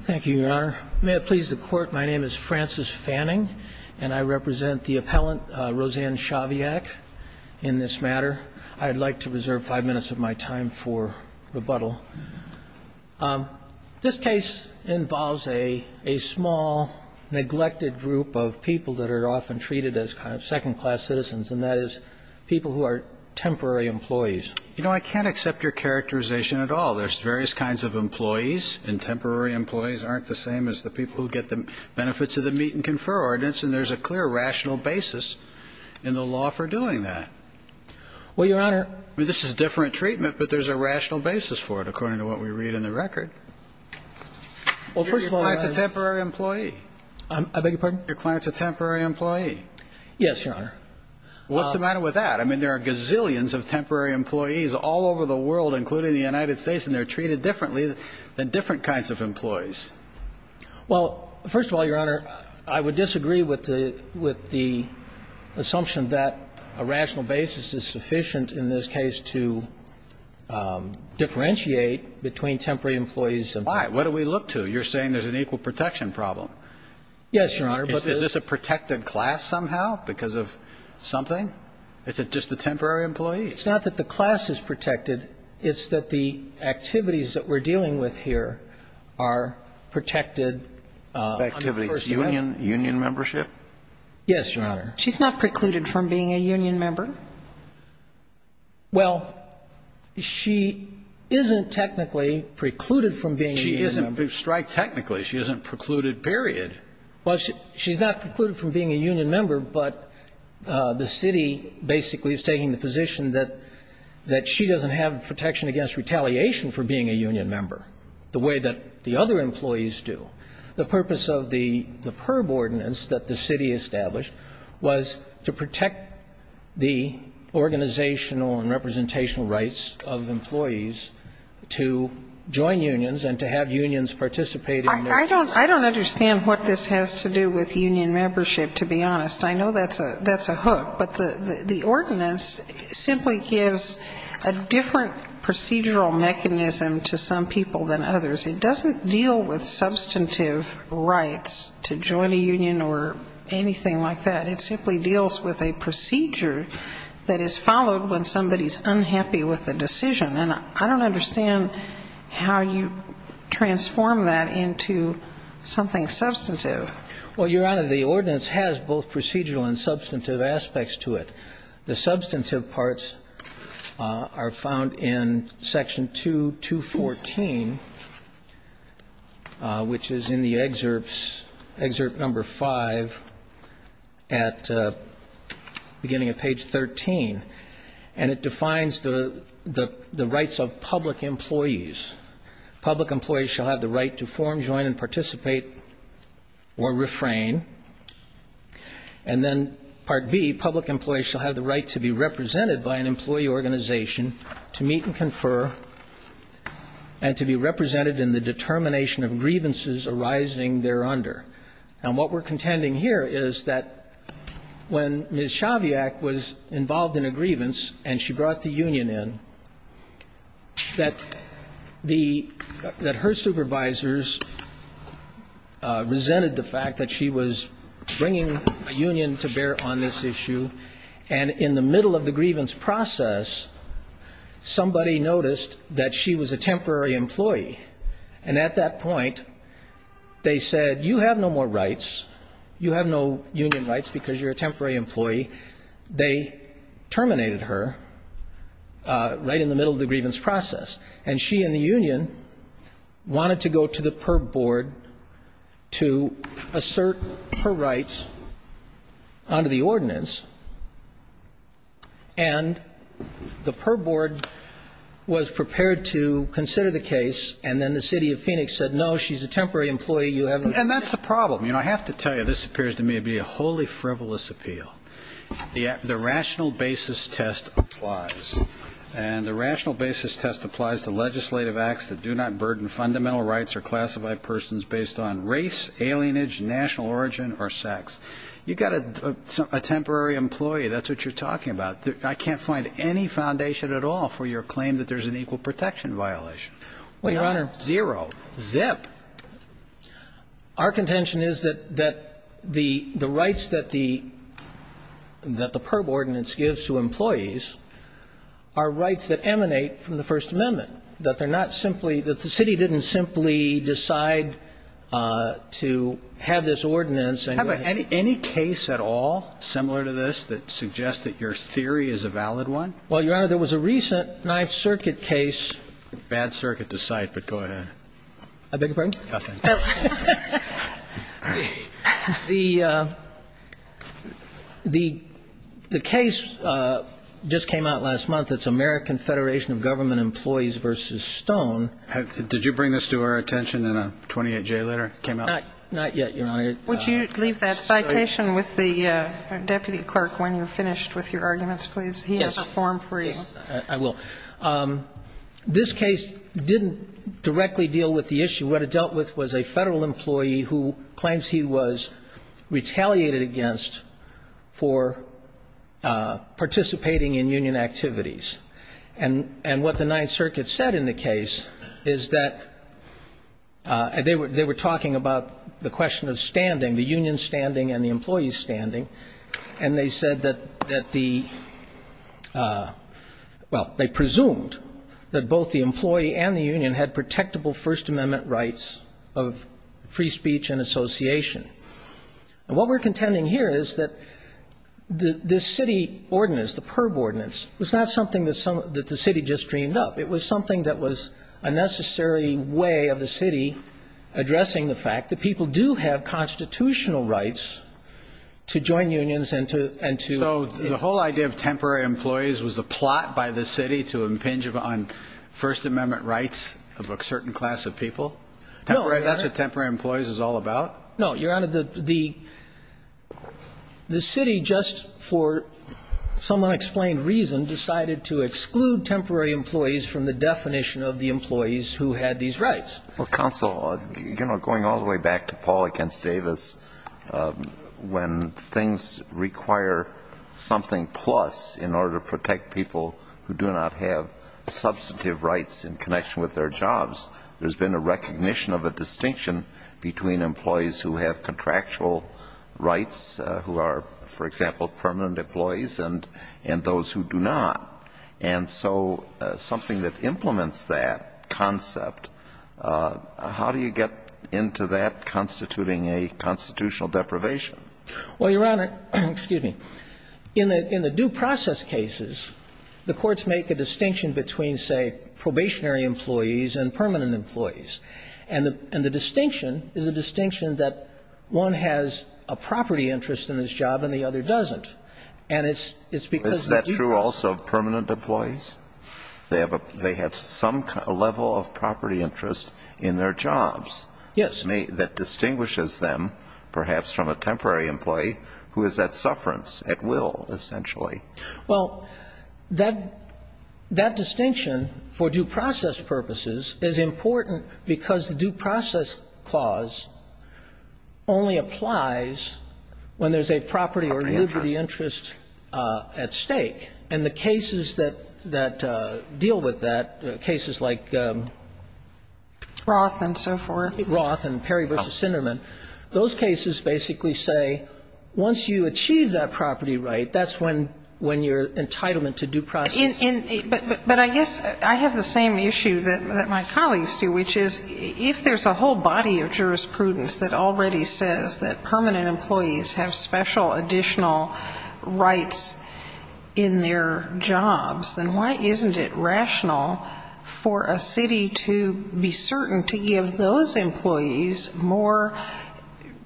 Thank you, Your Honor. May it please the Court, my name is Francis Fanning, and I represent the appellant, Roseanne Shaviak, in this matter. I'd like to reserve five minutes of my time for rebuttal. This case involves a small, neglected group of people that are often treated as kind of second-class citizens, and that is people who are temporary employees. You know, I can't accept your characterization at all. There's various kinds of employees, and temporary employees aren't the same as the people who get the benefits of the meet-and-confer ordinance, and there's a clear rational basis in the law for doing that. Well, Your Honor This is different treatment, but there's a rational basis for it, according to what we read in the record. Well, first of all, Your client's a temporary employee. I beg your pardon? Your client's a temporary employee. Yes, Your Honor. Well, what's the matter with that? I mean, there are gazillions of temporary employees all over the world, including the United States, and they're treated differently than different kinds of employees. Well, first of all, Your Honor, I would disagree with the assumption that a rational basis is sufficient in this case to differentiate between temporary employees and temporary employees. Why? What do we look to? You're saying there's an equal protection problem. Yes, Your Honor. Well, it's not that the class is protected. It's that the activities that we're dealing with here are protected under First Amendment. Activities. Union? Union membership? Yes, Your Honor. She's not precluded from being a union member? Well, she isn't technically precluded from being a union member. She isn't. We've striked technically. She isn't precluded, period. Well, she's not precluded from being a union member, but the city basically is taking the position that she doesn't have protection against retaliation for being a union member, the way that the other employees do. The purpose of the PERB ordinance that the city established was to protect the organizational and representational rights of employees to join unions and to have unions participate in their case. I don't understand what this has to do with union membership, to be honest. I know that's a hook, but the ordinance simply gives a different procedural mechanism to some people than others. It doesn't deal with substantive rights to join a union or anything like that. It simply deals with a procedure that is followed when somebody's Well, Your Honor, the ordinance has both procedural and substantive aspects to it. The substantive parts are found in Section 2, 214, which is in the excerpts, excerpt number 5, at the beginning of page 13, and it defines the rights of public employees. Public employees shall have the right to form, join, and participate or refrain. And then Part B, public employees shall have the right to be represented by an employee organization, to meet and confer, and to be represented in the determination of grievances arising thereunder. And what we're contending here is that when Ms. Chaviak was involved in a grievance and she brought the union in, that her supervisors resented the fact that she was bringing a union to bear on this issue. And in the middle of the grievance process, somebody noticed that she was a temporary employee. And at that point, they said, you have no more rights. You have no union rights because you're a temporary employee. They terminated her right in the middle of the grievance process. And she and the union wanted to go to the per board to assert her rights under the ordinance. And the per board was prepared to consider the case, and then the city of Phoenix said, no, she's a temporary employee. And that's the problem. You know, I have to tell you, this appears to me to be a wholly frivolous appeal. The rational basis test applies. And the rational basis test applies to legislative acts that do not burden fundamental rights or classify persons based on race, alienage, national origin or sex. You've got a temporary employee. That's what you're talking about. I can't find any foundation at all for your claim that there's an equal protection violation. Well, your honor, zero zip. Our contention is that that the the rights that the that the per ordinance gives to employees are rights that emanate from the First Amendment, that they're not simply that the city didn't simply decide to have this ordinance. Have any any case at all similar to this that suggests that your theory is a valid one? Well, your honor, there was a recent Ninth Circuit case. Bad circuit to cite, but go ahead. I beg your pardon? Nothing. The the the case just came out last month. It's American Federation of Government Employees versus Stone. Did you bring this to our attention in a 28 J letter came out? Not yet, your honor. Would you leave that citation with the deputy clerk when you're finished with your arguments, please? He has a form for you. I will. This case didn't directly deal with the issue. What it dealt with was a Federal employee who claims he was retaliated against for participating in union activities. And and what the Ninth Circuit said in the case is that they were talking about the question of standing the union standing and the employees standing. And they said that that the well, they presumed that both the employee and the union had protectable First Amendment rights of free speech and association. And what we're contending here is that the city ordinance, the per ordinance was not something that the city just dreamed up. It was something that was a necessary way of the city addressing the fact that people do have constitutional rights to join unions and to and to. So the whole idea of temporary employees was a plot by the city to impinge on First Amendment rights of a certain class of people. That's what temporary employees is all about. No, Your Honor, the the the city just for some unexplained reason decided to exclude temporary employees from the definition of the employees who had these rights. Well, counsel, you know, going all the way back to Paul against Davis, when things require something plus in order to protect people who do not have substantive rights in connection with their jobs. There's been a recognition of a distinction between employees who have contractual rights, who are, for example, permanent employees and and those who do not. And so something that implements that concept, how do you get into that constituting a constitutional deprivation? Well, Your Honor, excuse me, in the in the due process cases, the courts make a distinction between, say, probationary employees and permanent employees. And the and the distinction is a distinction that one has a property interest in his job and the other doesn't. And it's it's because that's true. Also, permanent employees, they have they have some level of property interest in their jobs. Yes, that distinguishes them perhaps from a temporary employee who is at sufferance at will, essentially. Well, that that distinction for due process purposes is important because the due process clause. Only applies when there's a property or liberty interest at stake and the cases that that deal with that cases like. Roth and so forth, Roth and Perry versus Sinderman, those cases basically say once you achieve that property, right, that's when when you're entitlement to due process. And but but I guess I have the same issue that my colleagues do, which is if there's a whole body of jurisprudence that already says that permanent employees have special additional rights in their jobs, then why isn't it rational for a city to have a permanent employee who has a special additional rights in their jobs? And why isn't it rational for a city to be certain to give those employees more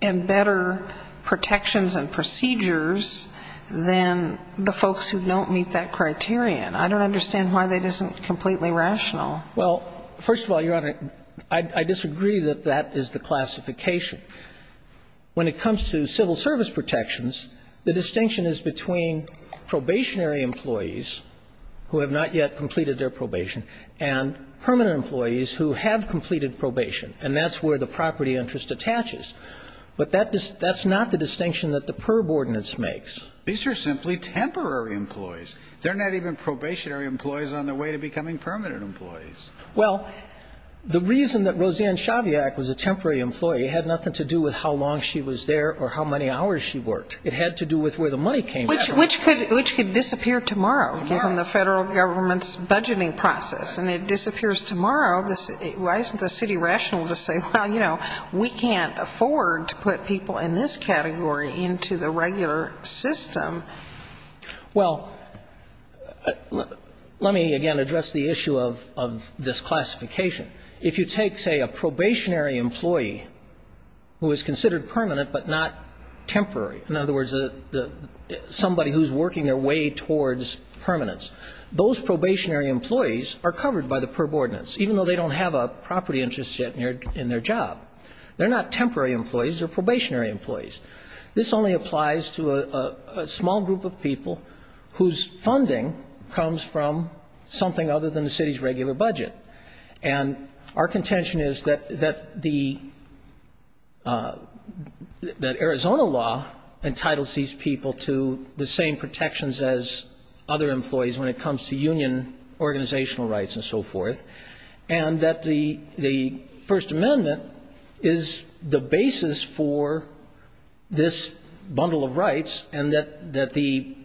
and better protections and procedures than the folks who don't meet that criterion? I don't understand why that isn't completely rational. Well, first of all, Your Honor, I disagree that that is the classification. When it comes to civil service protections, the distinction is between probationary employees who have not yet completed their probation and permanent employees who have completed probation. And that's where the property interest attaches. But that's not the distinction that the PERB ordinance makes. These are simply temporary employees. They're not even probationary employees on their way to becoming permanent employees. Well, the reason that Roseanne Chaviak was a temporary employee had nothing to do with how long she was there or how many hours she worked. It had to do with where the money came from. Which could disappear tomorrow from the federal government's budgeting process. And it disappears tomorrow. Why isn't the city rational to say, well, you know, we can't afford to put people in this category into the regular system? Well, let me again address the issue of this classification. If you take, say, a probationary employee who is considered permanent but not temporary, in other words, somebody who's working their way towards permanence, those probationary employees are covered by the PERB ordinance, even though they don't have a property interest yet in their job. They're not temporary employees, they're probationary employees. This only applies to a small group of people whose funding comes from something other than the city's regular budget. And our contention is that Arizona law entitles these people to the same protections as other employees when it comes to union organizational rights and so forth. And that the First Amendment is the basis for this bundle of rights. And that the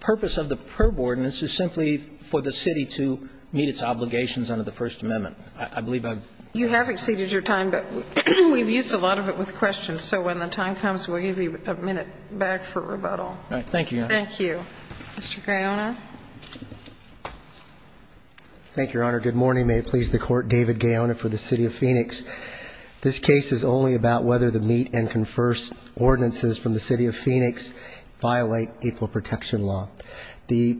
purpose of the PERB ordinance is simply for the city to meet its obligations under the First Amendment. I believe I've- You have exceeded your time, but we've used a lot of it with questions. So when the time comes, we'll give you a minute back for rebuttal. All right, thank you, Your Honor. Thank you. Mr. Graona. Thank you, Your Honor. Good morning, may it please the court. David Gaona for the City of Phoenix. This case is only about whether the meet and confers ordinances from the City of Phoenix violate April Protection Law. The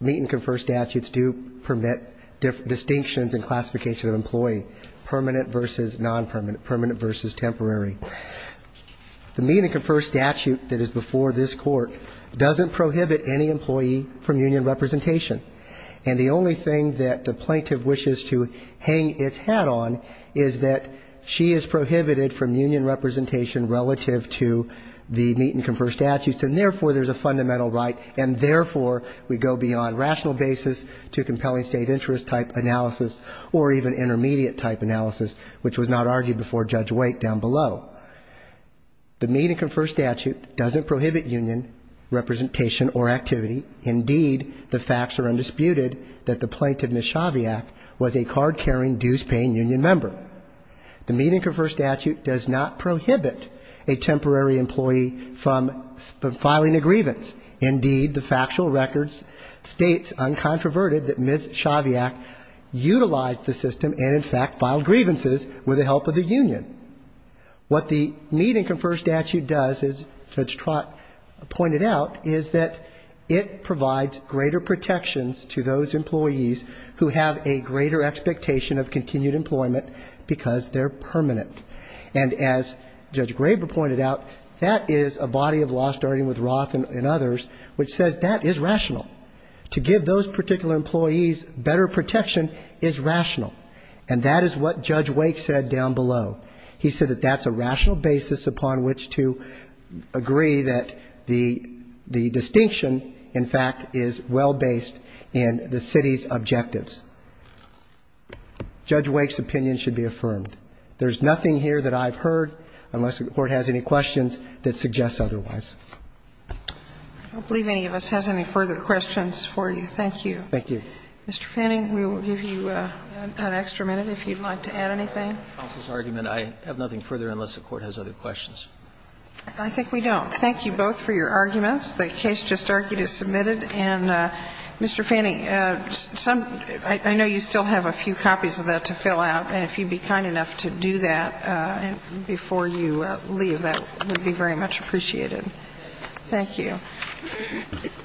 meet and confer statutes do permit distinctions and classification of employee, permanent versus non-permanent, permanent versus temporary. The meet and confer statute that is before this court doesn't prohibit any employee from union representation. And the only thing that the plaintiff wishes to hang its hat on is that she is prohibited from union representation relative to the meet and confer statutes. And therefore, there's a fundamental right. And therefore, we go beyond rational basis to compelling state interest type analysis or even intermediate type analysis, which was not argued before Judge Wake down below. The meet and confer statute doesn't prohibit union representation or activity. Indeed, the facts are undisputed that the plaintiff, Ms. Shaviak, was a card-carrying, dues-paying union member. The meet and confer statute does not prohibit a temporary employee from filing a grievance. Indeed, the factual records state, uncontroverted, that Ms. Shaviak utilized the system and, in fact, filed grievances with the help of the union. What the meet and confer statute does, as Judge Trott pointed out, is that it provides greater protections to those employees who have a greater expectation of continued employment because they're permanent. And as Judge Graber pointed out, that is a body of law, starting with Roth and others, which says that is rational. To give those particular employees better protection is rational. And that is what Judge Wake said down below. He said that that's a rational basis upon which to agree that the distinction, in fact, is well-based in the city's objectives. Judge Wake's opinion should be affirmed. There's nothing here that I've heard, unless the Court has any questions, that suggests otherwise. I don't believe any of us has any further questions for you. Thank you. Thank you. Mr. Fanning, we will give you an extra minute if you'd like to add anything. Counsel's argument, I have nothing further unless the Court has other questions. I think we don't. Thank you both for your arguments. The case just argued is submitted. And, Mr. Fanning, I know you still have a few copies of that to fill out. And if you'd be kind enough to do that before you leave, that would be very much appreciated. Thank you.